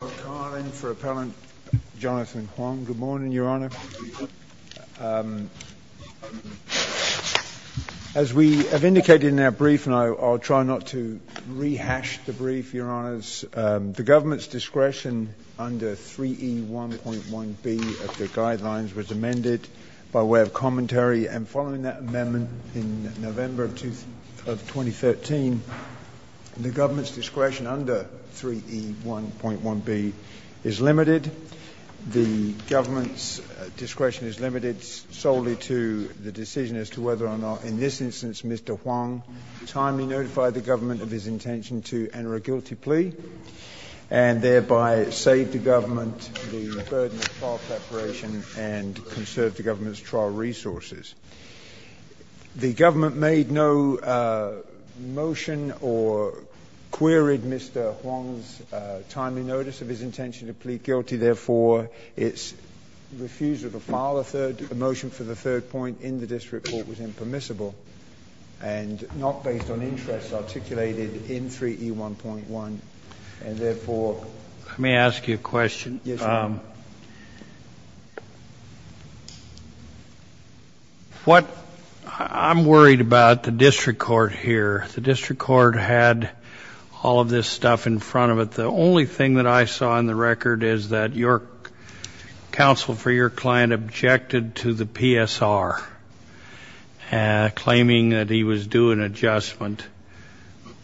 Good morning Your Honour. As we have indicated in our brief and I'll try not to rehash the brief Your Honours, the government's discretion under 3E1.1b of the guidelines was amended by way of commentary and following that amendment in November of 2013, the government's discretion under 3E1.1b is limited. The government's discretion is limited solely to the decision as to whether or not in this instance Mr. Hoang timely notified the government of his intention to enter a guilty plea and thereby save the government the burden of trial preparation and conserve the government's trial resources. The government made no motion or queried Mr. Hoang's timely notice of his intention to plead guilty. Therefore, its refusal to file a third — a motion for the third point in the district court was impermissible and not based on interests articulated in 3E1.1, and therefore— Let me ask you a question. I'm worried about the district court here. The district court had all of this stuff in front of it. The only thing that I saw in the record is that your counsel for your client objected to the PSR, claiming that he was due an adjustment.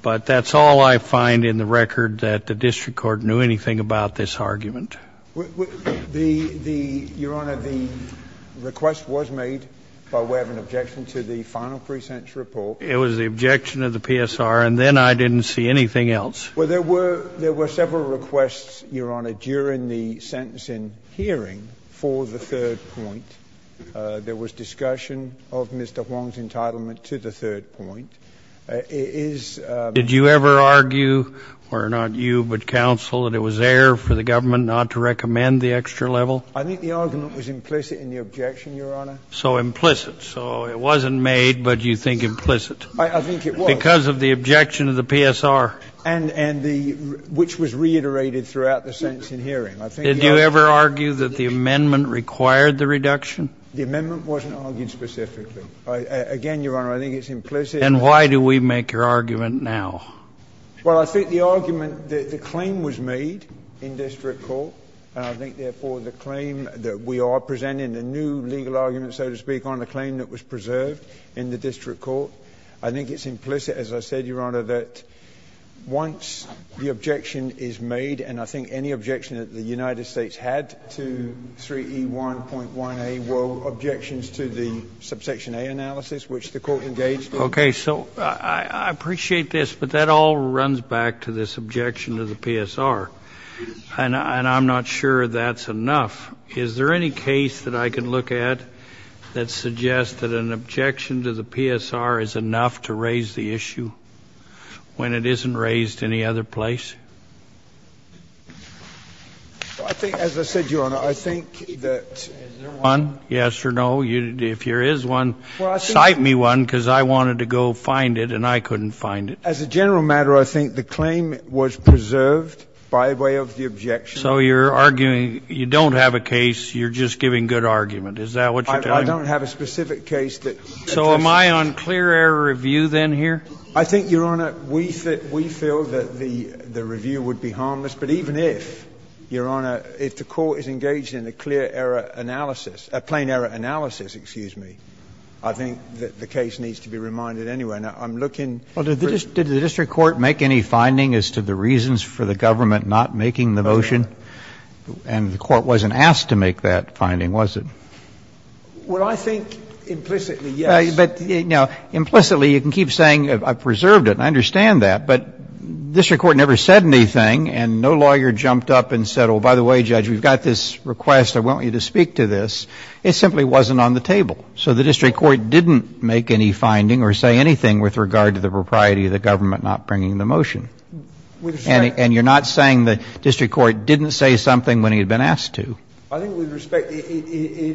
But that's all I find in the record, that the district court knew anything about this argument. The — your Honor, the request was made by way of an objection to the final pre-sentence report. It was the objection of the PSR, and then I didn't see anything else. Well, there were several requests, your Honor, during the sentencing hearing for the third point. There was discussion of Mr. Hoang's entitlement to the third point. It is— Did you ever argue, or not you, but counsel, that it was there for the government not to recommend the extra level? I think the argument was implicit in the objection, your Honor. So implicit. So it wasn't made, but you think implicit. I think it was. Because of the objection of the PSR. And the — which was reiterated throughout the sentencing hearing. I think— Did you ever argue that the amendment required the reduction? The amendment wasn't argued specifically. Again, your Honor, I think it's implicit— Then why do we make your argument now? Well, I think the argument — the claim was made in district court, and I think, therefore, the claim that we are presenting a new legal argument, so to speak, on a claim that was preserved in the district court, I think it's implicit, as I said, your Honor, that once the objection is made, and I think any objection that the United States had to 3E1.1A were objections to the subsection A analysis, which the court engaged in. Okay. So I appreciate this, but that all runs back to this objection to the PSR, and I'm not sure that's enough. Is there any case that I can look at that suggests that an objection to the PSR is enough to raise the issue when it isn't raised any other place? Well, I think, as I said, your Honor, I think that— Is there one? Yes or no? If there is one, cite me one, because I wanted to go find it, and I couldn't find it. As a general matter, I think the claim was preserved by way of the objection— So you're arguing you don't have a case, you're just giving good argument. Is that what you're telling me? I don't have a specific case that— So am I on clear error review then here? I think, your Honor, we feel that the review would be harmless. But even if, your Honor, if the court is engaged in a clear error analysis — a plain error analysis, excuse me — I think that the case needs to be reminded anyway. Now, I'm looking for— Well, did the district court make any finding as to the reasons for the government not making the motion? And the court wasn't asked to make that finding, was it? Well, I think implicitly, yes. But, you know, implicitly, you can keep saying I preserved it, and I understand that. But district court never said anything, and no lawyer jumped up and said, oh, by the way, Judge, we've got this request, I want you to speak to this. It simply wasn't on the table. So the district court didn't make any finding or say anything with regard to the propriety of the government not bringing the motion. And you're not saying the district court didn't say something when he had been asked to. I think with respect, it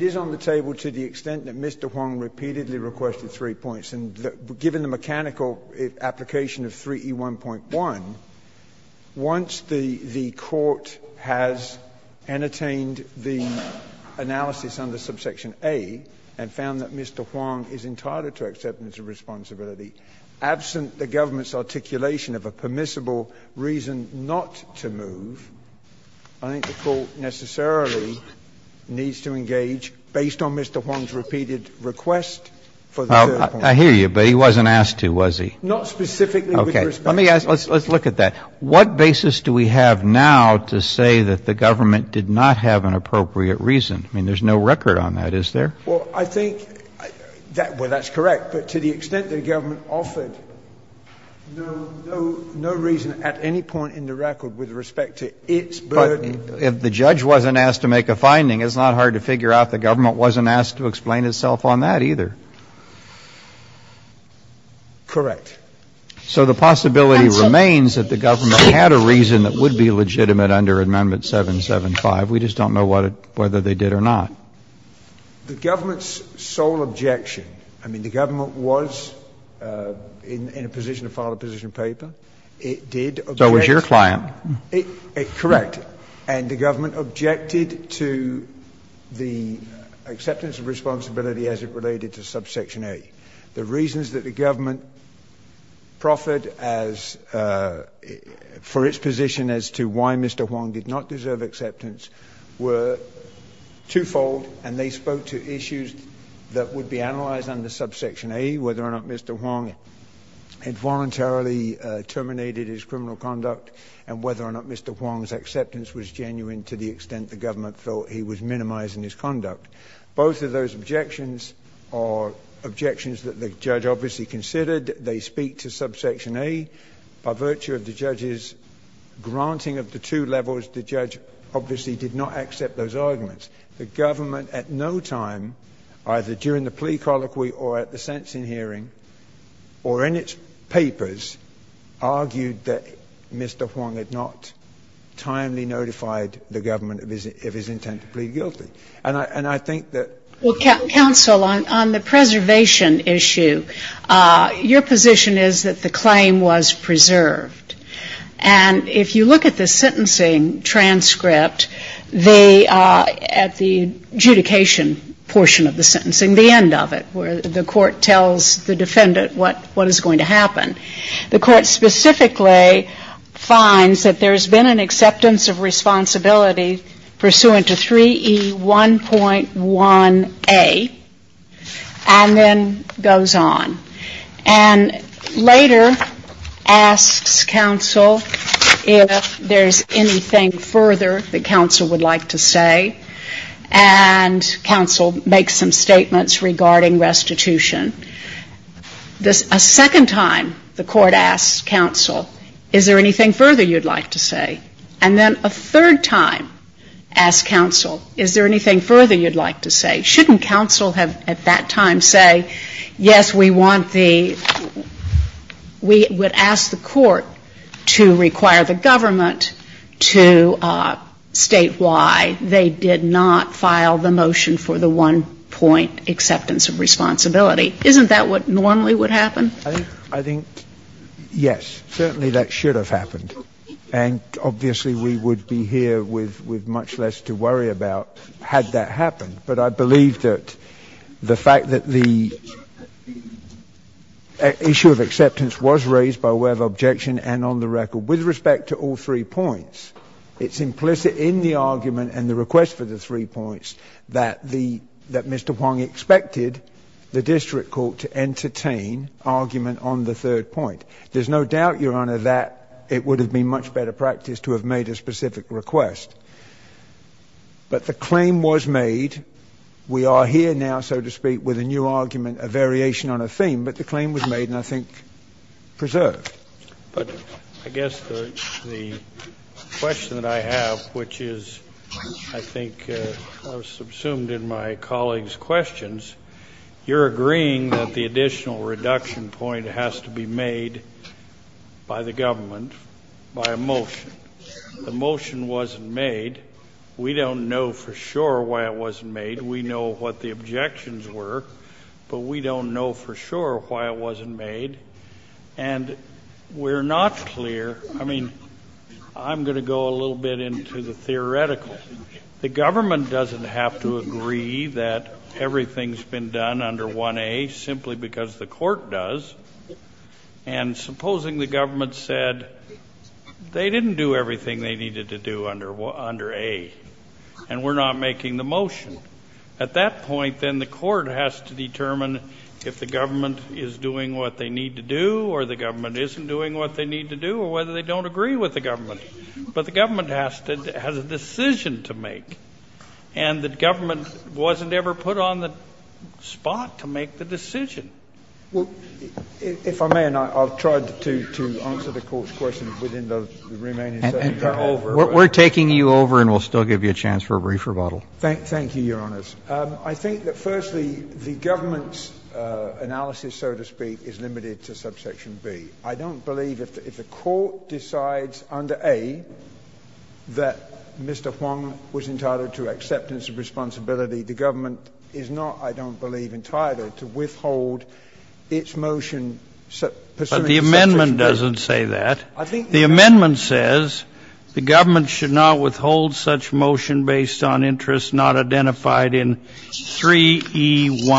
is on the table to the extent that Mr. Huang repeatedly requested three points. And given the mechanical application of 3E1.1, once the court has entertained the analysis under subsection A and found that Mr. Huang is entitled to acceptance of responsibility, absent the government's articulation of a permissible reason not to move, I think the court necessarily needs to engage, based on Mr. Huang's repeated request for the third point. Well, I hear you, but he wasn't asked to, was he? Not specifically with respect to 3E1.1. Okay. Let me ask, let's look at that. What basis do we have now to say that the government did not have an appropriate reason? I mean, there's no record on that, is there? Well, I think that, well, that's correct. But to the extent the government offered no, no, no reason at any point in the record with respect to its burden. If the judge wasn't asked to make a finding, it's not hard to figure out the government wasn't asked to explain itself on that either. Correct. So the possibility remains that the government had a reason that would be legitimate under Amendment 775. We just don't know what it, whether they did or not. The government's sole objection, I mean, the government was in a position to file a position of paper. It did. So it was your client. Correct. And the government objected to the acceptance of responsibility as it related to subsection A. The reasons that the government proffered as for its position as to why Mr. Huang did not deserve acceptance were twofold. And they spoke to issues that would be analyzed under subsection A, whether or not Mr. Huang had voluntarily terminated his criminal conduct and whether or not Mr. Huang's acceptance was genuine to the extent the government thought he was minimizing his conduct. Both of those objections are objections that the judge obviously considered. They speak to subsection A. By virtue of the judge's granting of the two levels, the judge obviously did not accept those arguments. The government at no time, either during the plea colloquy or at the sentencing hearing or in its papers, argued that Mr. Huang had not timely notified the government of his intent to plead guilty. And I think that... Well, counsel, on the preservation issue, your position is that the claim was preserved. And if you look at the sentencing transcript, at the adjudication portion of the sentencing, the end of it, where the court tells the defendant what is going to happen, the court specifically finds that there's been an acceptance of 1.1A and then goes on. And later asks counsel if there's anything further that counsel would like to say. And counsel makes some statements regarding restitution. A second time, the court asks counsel, is there anything further you'd like to say? And then a third time, asks counsel, is there anything further you'd like to say? Shouldn't counsel have at that time say, yes, we want the — we would ask the court to require the government to state why they did not file the motion for the one-point acceptance of responsibility. Isn't that what normally would happen? I think, yes. Certainly that should have happened. And obviously, we would be here with much less to worry about had that happened. But I believe that the fact that the issue of acceptance was raised by way of objection and on the record with respect to all three points, it's implicit in the argument and the request for the three points that the — that Mr. Huang expected the district court to entertain argument on the third point. There's no doubt, Your Honor, that it would have been much better practice to have made a specific request. But the claim was made. We are here now, so to speak, with a new argument, a variation on a theme. But the claim was made and I think preserved. But I guess the question that I have, which is, I think, subsumed in my colleague's questions, you're agreeing that the additional reduction point has to be made by the government by a motion. The motion wasn't made. We don't know for sure why it wasn't made. We know what the objections were, but we don't know for sure why it wasn't made. And we're not clear — I mean, I'm going to go a little bit into the theoretical. The government doesn't have to agree that everything's been done under 1A simply because the court does. And supposing the government said they didn't do everything they needed to do under A and we're not making the motion. At that point, then, the court has to determine if the government is doing what they need to do or the government isn't doing what they need to do or whether they don't agree with the government. But the government has to — has a decision to make, and the government wasn't ever put on the spot to make the decision. Well, if I may, and I'll try to answer the Court's question within the remaining session. And we're taking you over, and we'll still give you a chance for a brief rebuttal. Thank you, Your Honors. I think that, firstly, the government's analysis, so to speak, is limited to subsection B. I don't believe if the court decides under A that Mr. Huang was entitled to acceptance of responsibility, the government is not, I don't believe, entitled to withhold its motion pursuant to subsection B. But the amendment doesn't say that. The amendment says the government should not withhold such motion based on interests not identified in 3E1.1.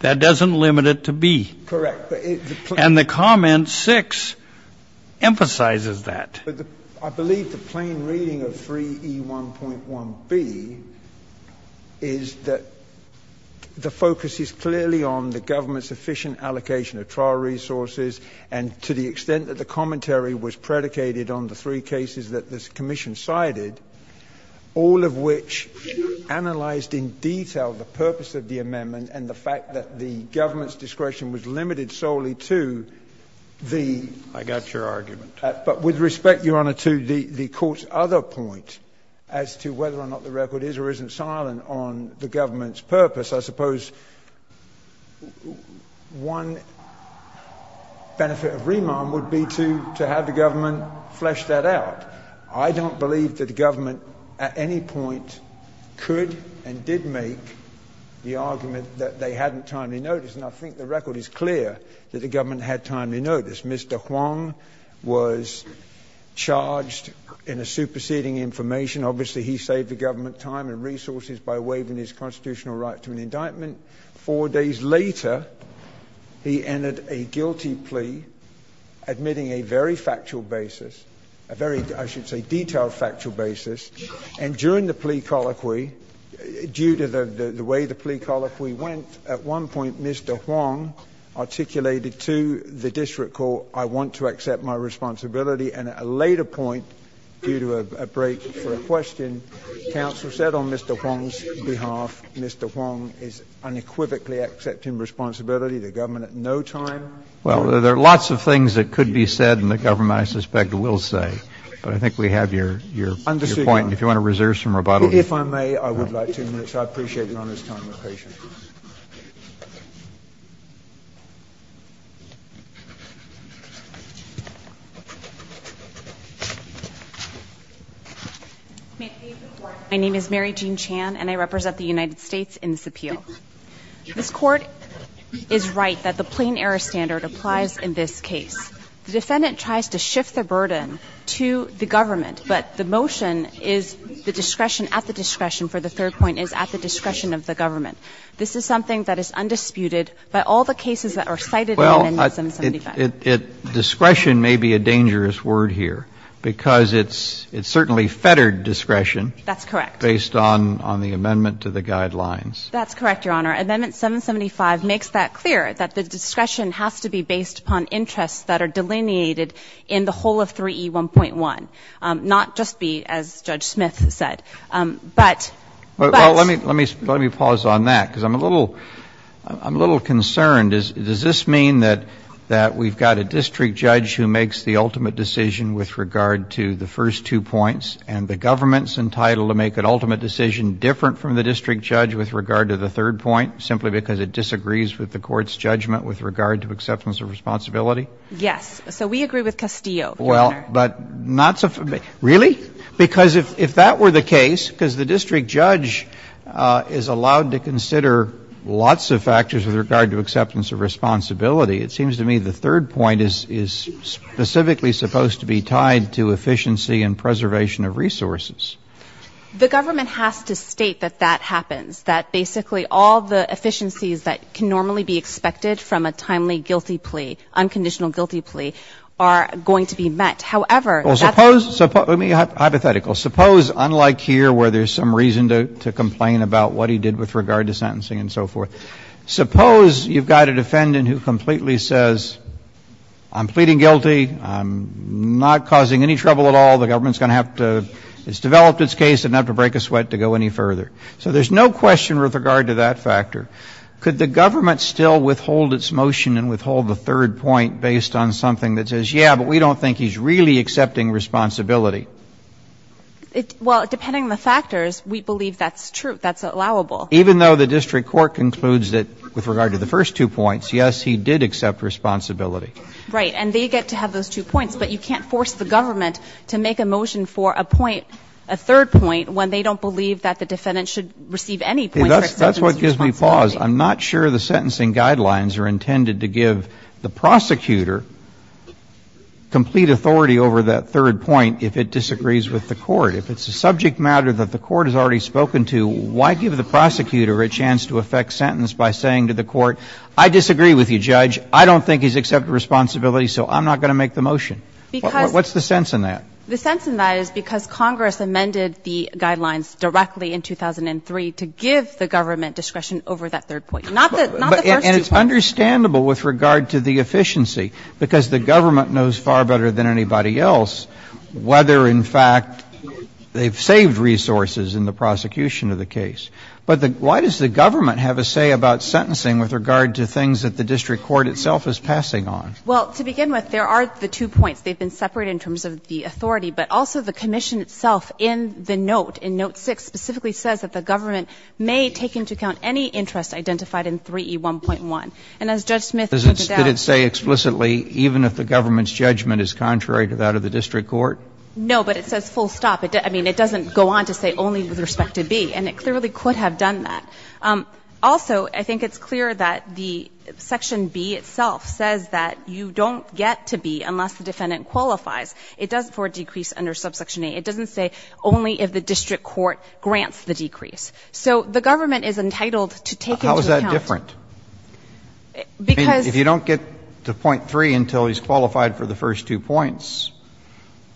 That doesn't limit it to B. Correct. And the comment 6 emphasizes that. I believe the plain reading of 3E1.1B is that the focus is clearly on the government's efficient allocation of trial resources and to the extent that the commentary was predicated on the three cases that this commission cited, all of which analyzed in detail the purpose of the amendment and the fact that the government's discretion was limited solely to the — I got your argument. But with respect, Your Honor, to the court's other point as to whether or not the record is or isn't silent on the government's purpose, I suppose one benefit of remand would be to have the government flesh that out. I don't believe that the government at any point could and did make the argument that they hadn't timely noticed. And I think the record is clear that the government had timely notice. Mr. Huang was charged in a superseding information. Obviously, he saved the government time and resources by waiving his constitutional right to an indictment. Four days later, he entered a guilty plea, admitting a very factual basis, a very I should say detailed factual basis. And during the plea colloquy, due to the way the plea colloquy went, at one point Mr. Huang articulated to the district court, I want to accept my responsibility. And at a later point, due to a break for a question, counsel said on Mr. Huang's behalf, Mr. Huang is unequivocally accepting responsibility, the government at no time. Well, there are lots of things that could be said and the government, I suspect, will say. But I think we have your point. And if you want to reserve some rebuttal. If I may, I would like two minutes. I appreciate your time and patience. My name is Mary Jean Chan, and I represent the United States in this appeal. This court is right that the plain error standard applies in this case. The defendant tries to shift the burden to the government, but the motion is the discretion at the discretion for the third point is at the discretion of the government. This is something that is undisputed by all the cases that are cited in the amendment 775. Well, discretion may be a dangerous word here, because it's certainly fettered discretion. That's correct. Based on the amendment to the guidelines. That's correct, Your Honor. Amendment 775 makes that clear, that the discretion has to be based upon interests that are delineated in the whole of 3E1.1. Not just be, as Judge Smith said, but. Well, let me pause on that, because I'm a little concerned. Does this mean that we've got a district judge who makes the ultimate decision with regard to the first two points, and the government's entitled to make an ultimate decision different from the district judge with regard to the third point, simply because it disagrees with the court's judgment with regard to acceptance of responsibility? Yes. So we agree with Castillo, Your Honor. Well, but not, really? Because if that were the case, because the district judge is allowed to consider lots of factors with regard to acceptance of responsibility, it seems to me the third point is specifically supposed to be tied to efficiency and preservation of resources. The government has to state that that happens, that basically all the efficiencies that can normally be expected from a timely guilty plea, unconditional guilty plea, are going to be met. However, that's. Well, suppose, hypothetically, suppose unlike here where there's some reason to complain about what he did with regard to sentencing and so forth, suppose you've got a defendant who completely says, I'm pleading guilty, I'm not causing any trouble at all, the government's going to have to, it's developed its case, didn't have to break a sweat to go any further. So there's no question with regard to that factor. Could the government still withhold its motion and withhold the third point based on something that says, yeah, but we don't think he's really accepting responsibility? Well, depending on the factors, we believe that's true, that's allowable. Even though the district court concludes that with regard to the first two points, yes, he did accept responsibility. Right. And they get to have those two points, but you can't force the government to make a motion for a point, a third point, when they don't believe that the defendant should receive any point of responsibility. That's what gives me pause. I'm not sure the sentencing guidelines are intended to give the prosecutor complete authority over that third point if it disagrees with the court. If it's a subject matter that the court has already spoken to, why give the prosecutor a chance to effect sentence by saying to the court, I disagree with you, Judge, I don't think he's accepting responsibility, so I'm not going to make the motion? Because What's the sense in that? The sense in that is because Congress amended the guidelines directly in 2003 to give the government discretion over that third point, not the first two points. But it's understandable with regard to the efficiency, because the government knows far better than anybody else whether, in fact, they've saved resources in the prosecution of the case. But why does the government have a say about sentencing with regard to things that the district court itself is passing on? Well, to begin with, there are the two points. They've been separated in terms of the authority, but also the commission itself in the note, in note 6, specifically says that the government may take into account any interest identified in 3E1.1. And as Judge Smith pointed out to you, the district court has a full stop on that. Did it say explicitly, even if the government's judgment is contrary to that of the district court? No, but it says full stop. I mean, it doesn't go on to say only with respect to B. And it clearly could have done that. Also, I think it's clear that the section B itself says that you don't get to B unless the defendant qualifies. It does for a decrease under subsection A. It doesn't say only if the district court grants the decrease. So the government is entitled to take into account. How is that different? Because you don't get to point 3 until he's qualified for the first two points.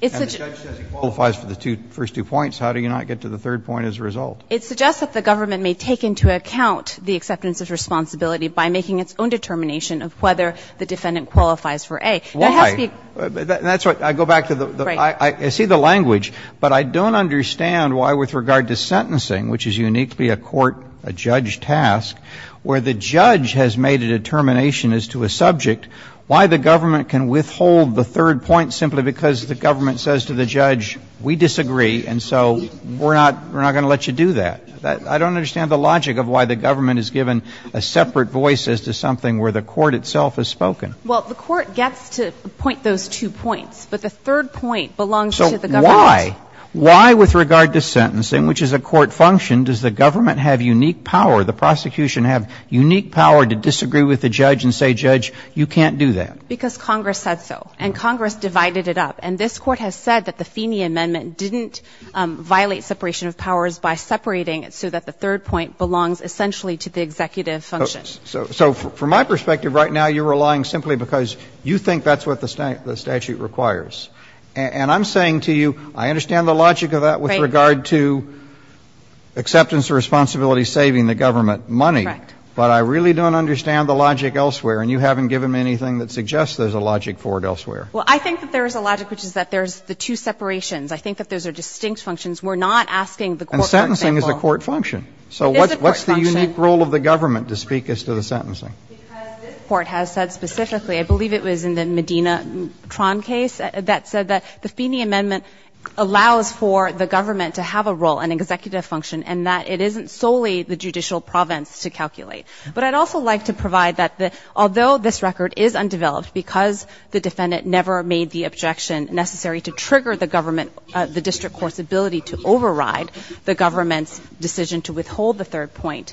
It's a judge says he qualifies for the first two points. How do you not get to the third point as a result? It suggests that the government may take into account the acceptance of responsibility by making its own determination of whether the defendant qualifies for A. Why? That's right. I go back to the right. I see the language, but I don't understand why with regard to sentencing, which is uniquely a court, a judge task, where the judge has made a determination as to a subject, why the government can withhold the third point simply because the government says to the judge, we disagree, and so we're not going to let you do that. I don't understand the logic of why the government is given a separate voice as to something where the court itself has spoken. Well, the court gets to point those two points, but the third point belongs to the government. So why? Why with regard to sentencing, which is a court function, does the government have unique power, the prosecution have unique power to disagree with the judge and say, judge, you can't do that? Because Congress said so, and Congress divided it up. And this Court has said that the Feeney Amendment didn't violate separation of powers by separating it so that the third point belongs essentially to the executive function. So from my perspective right now, you're relying simply because you think that's what the statute requires. And I'm saying to you, I understand the logic of that with regard to acceptance of responsibility saving the government money, but I really don't understand the logic elsewhere, and you haven't given me anything that suggests there's a logic for it elsewhere. Well, I think that there is a logic, which is that there's the two separations. I think that those are distinct functions. We're not asking the court for example. And sentencing is a court function. It is a court function. Why is there a unique role of the government to speak as to the sentencing? Because this Court has said specifically, I believe it was in the Medina-Tron case that said that the Feeney Amendment allows for the government to have a role, an executive function, and that it isn't solely the judicial province to calculate. But I'd also like to provide that although this record is undeveloped because the defendant never made the objection necessary to trigger the government, to hold the third point,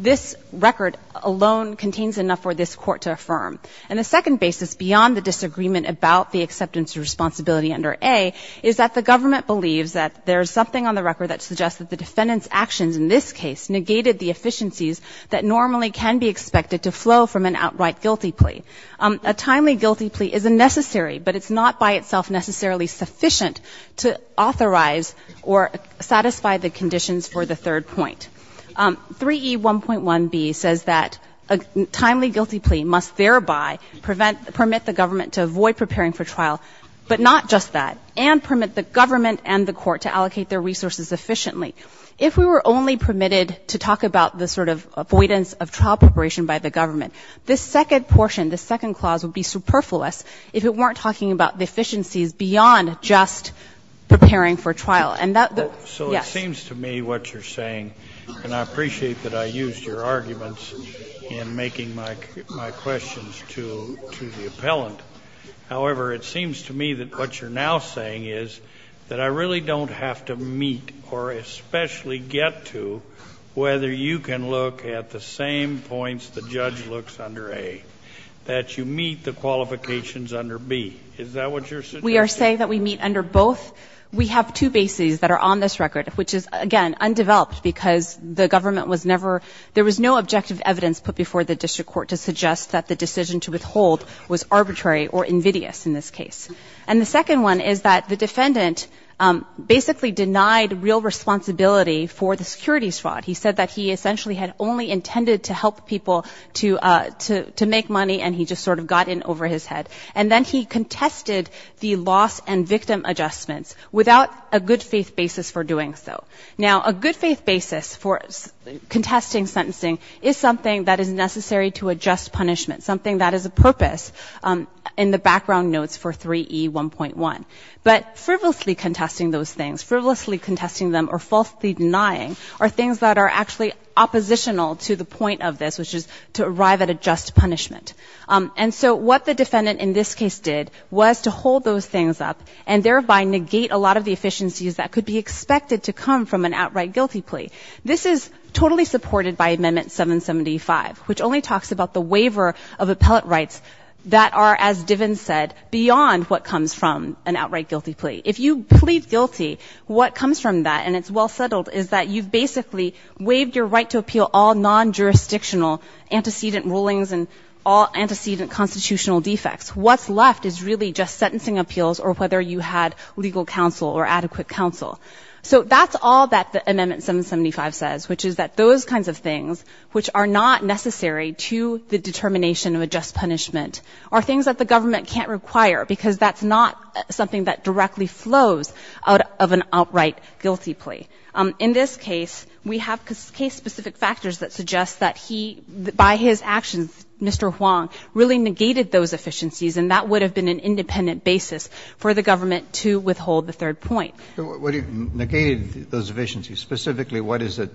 this record alone contains enough for this Court to affirm. And the second basis beyond the disagreement about the acceptance of responsibility under A is that the government believes that there is something on the record that suggests that the defendant's actions in this case negated the efficiencies that normally can be expected to flow from an outright guilty plea. A timely guilty plea is a necessary, but it's not by itself necessarily sufficient to authorize or satisfy the conditions for the third point. 3E1.1b says that a timely guilty plea must thereby permit the government to avoid preparing for trial, but not just that, and permit the government and the Court to allocate their resources efficiently. If we were only permitted to talk about the sort of avoidance of trial preparation by the government, this second portion, this second clause would be superfluous if it weren't talking about the efficiencies beyond just preparing for trial. And that, yes. So it seems to me what you're saying, and I appreciate that I used your arguments in making my questions to the appellant. However, it seems to me that what you're now saying is that I really don't have to meet or especially get to whether you can look at the same points the judge looks under A. That you meet the qualifications under B. Is that what you're suggesting? We are saying that we meet under both. We have two bases that are on this record, which is, again, undeveloped because the government was never, there was no objective evidence put before the district court to suggest that the decision to withhold was arbitrary or invidious in this case. And the second one is that the defendant basically denied real responsibility for the securities fraud. He said that he essentially had only intended to help people to make money and he just sort of got in over his head. And then he contested the loss and victim adjustments without a good faith basis for doing so. Now, a good faith basis for contesting sentencing is something that is necessary to adjust punishment, something that is a purpose in the background notes for 3E1.1. But frivolously contesting those things, frivolously contesting them or falsely denying are things that are actually oppositional to the point of this, which is to arrive at a just punishment. And so what the defendant in this case did was to hold those things up and thereby negate a lot of the efficiencies that could be expected to come from an outright guilty plea. This is totally supported by Amendment 775, which only talks about the waiver of appellate rights that are, as Diven said, beyond what comes from an outright guilty plea. If you plead guilty, what comes from that and it's well settled is that you've basically waived your right to appeal all non-jurisdictional antecedent rulings and all antecedent constitutional defects. What's left is really just sentencing appeals or whether you had legal counsel or adequate counsel. So that's all that Amendment 775 says, which is that those kinds of things which are not necessary to the determination of a just punishment are things that the government can't require because that's not something that directly flows out of an outright guilty plea. In this case, we have case-specific factors that suggest that he, by his actions, Mr. Huang, really negated those efficiencies and that would have been an independent basis for the government to withhold the third point. Negated those efficiencies, specifically what is it,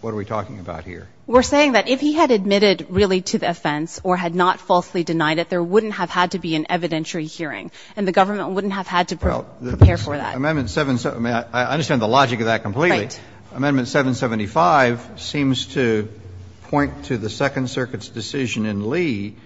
what are we talking about here? We're saying that if he had admitted really to the offense or had not falsely denied it, there wouldn't have had to be an evidentiary hearing and the government wouldn't have had to prepare for that. Amendment 775, I understand the logic of that completely. Right. Amendment 775 seems to point to the Second Circuit's decision in Lee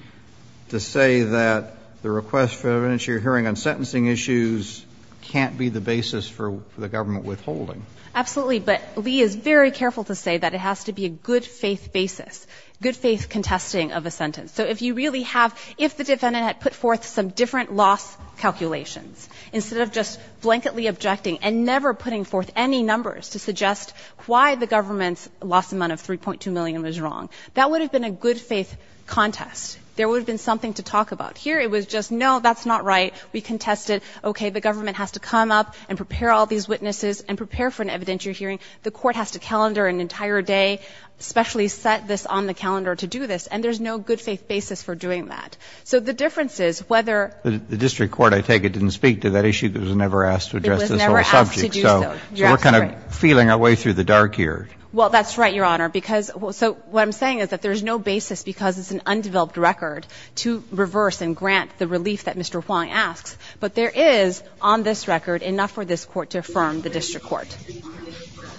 to say that the request for evidentiary hearing on sentencing issues can't be the basis for the government withholding. Absolutely, but Lee is very careful to say that it has to be a good-faith basis, good-faith contesting of a sentence. So if you really have, if the defendant had put forth some different loss calculations instead of just blanketly objecting and never putting forth any numbers to suggest why the government's loss amount of 3.2 million was wrong, that would have been a good-faith contest. There would have been something to talk about. Here it was just, no, that's not right. We contested, okay, the government has to come up and prepare all these witnesses and prepare for an evidentiary hearing. The court has to calendar an entire day, specially set this on the calendar to do this. And there's no good-faith basis for doing that. So the difference is whether the district court, I take it, didn't speak to that issue, because it was never asked to address this whole subject. It was never asked to do so, you're absolutely right. So we're kind of feeling our way through the dark here. Well, that's right, Your Honor, because, so what I'm saying is that there's no basis because it's an undeveloped record to reverse and grant the relief that Mr. Huang asks, but there is, on this record, enough for this Court to affirm the district court.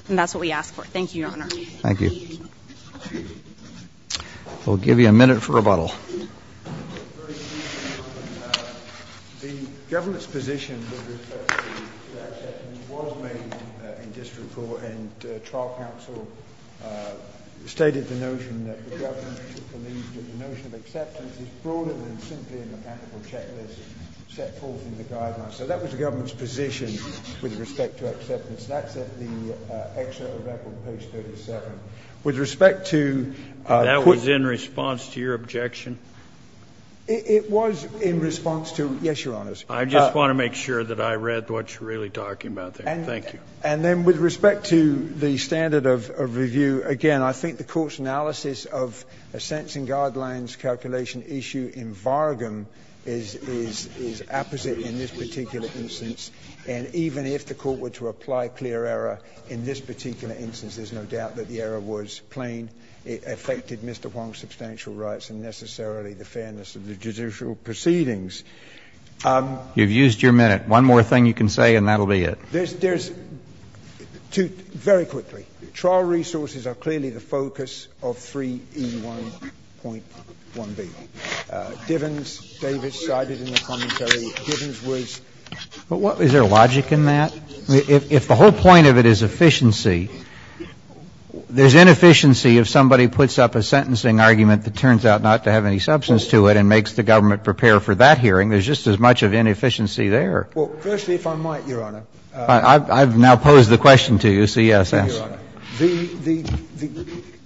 And that's what we ask for. Thank you, Your Honor. Thank you. We'll give you a minute for rebuttal. The government's position with respect to acceptance was made in district court, and trial counsel stated the notion that the government believed that the notion of acceptance is broader than simply a mechanical checklist set forth in the guidelines. So that was the government's position with respect to acceptance. That's at the excerpt of record page 37. With respect to put That was in response to your objection? It was in response to, yes, Your Honors. I just want to make sure that I read what you're really talking about there. Thank you. And then with respect to the standard of review, again, I think the Court's analysis of a sense-in-guidelines calculation issue in vargum is opposite in this particular instance. And even if the Court were to apply clear error in this particular instance, there's no doubt that the error was plain. It affected Mr. Huang's substantial rights and necessarily the fairness of the judicial proceedings. You've used your minute. One more thing you can say and that will be it. There's two very quickly. Trial resources are clearly the focus of 3E1.1b. Divens, Davis cited in the commentary, Divens was But is there logic in that? If the whole point of it is efficiency, there's inefficiency if somebody puts up a sentencing argument that turns out not to have any substance to it and makes the government prepare for that hearing. There's just as much of inefficiency there. Well, firstly, if I might, Your Honor. I've now posed the question to you, so yes. The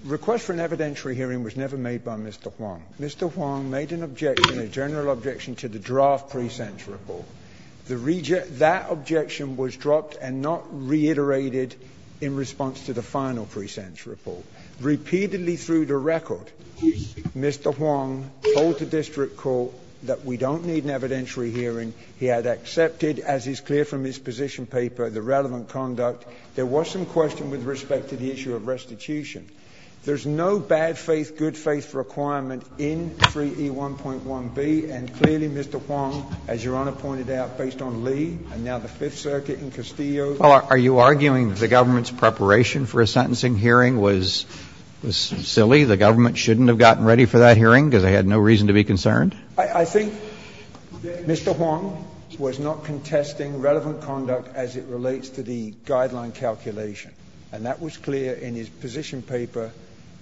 request for an evidentiary hearing was never made by Mr. Huang. Mr. Huang made an objection, a general objection to the draft pre-sense report. That objection was dropped and not reiterated in response to the final pre-sense report. Repeatedly through the record, Mr. Huang told the district court that we don't need an evidentiary hearing. He had accepted, as is clear from his position paper, the relevant conduct. There was some question with respect to the issue of restitution. There's no bad faith, good faith requirement in 3E1.1b, and clearly, Mr. Huang, as Your Honor pointed out, based on Lee and now the Fifth Circuit in Castillo Are you arguing that the government's preparation for a sentencing hearing was silly? The government shouldn't have gotten ready for that hearing because they had no reason to be concerned? I think Mr. Huang was not contesting relevant conduct as it relates to the guideline calculation. And that was clear in his position paper,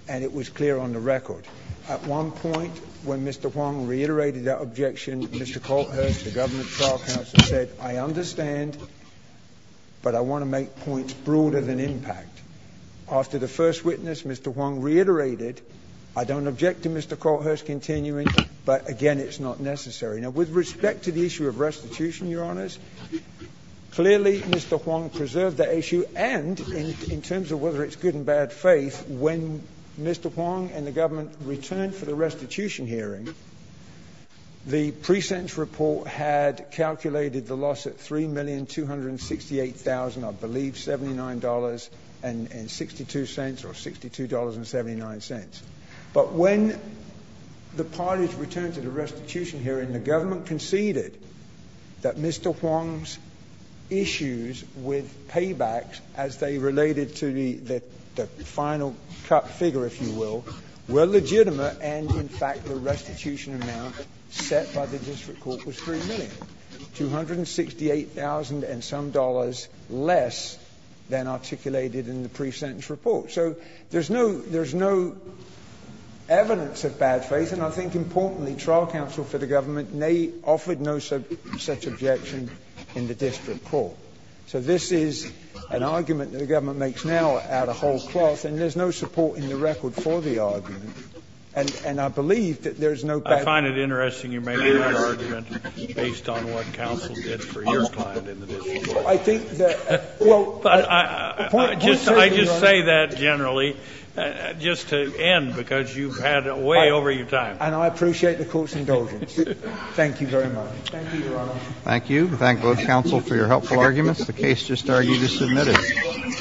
and it was clear on the record. At one point, when Mr. Huang reiterated that objection, Mr. Colthurst, the government trial counsel, said, I understand, but I want to make points broader than impact. After the first witness, Mr. Huang reiterated, I don't object to Mr. Colthurst continuing, but again, it's not necessary. Now, with respect to the issue of restitution, Your Honors, clearly, Mr. Huang preserved that issue, and in terms of whether it's good and bad faith, when Mr. Huang and the government returned for the restitution hearing, the precinct report had calculated the loss at $3,268,000, I believe $79.62, or $62.79. But when the parties returned to the restitution hearing, the government conceded that Mr. Huang's issues with paybacks, as they related to the final cut figure, if you will, were legitimate and, in fact, the restitution amount set by the district court was $3 million, $268,000 and some dollars less than articulated in the pre-sentence report. So there's no evidence of bad faith, and I think, importantly, trial counsel for the district court offered no such objection in the district court. So this is an argument that the government makes now out of whole cloth, and there's no support in the record for the argument, and I believe that there's no bad faith. I find it interesting you're making that argument based on what counsel did for your client in the district court. I think that, well, point clearly, Your Honor. I just say that generally, just to end, because you've had way over your time. And I appreciate the court's indulgence. Thank you very much. Thank you, Your Honor. Thank you. Thank both counsel for your helpful arguments. The case just argued is submitted.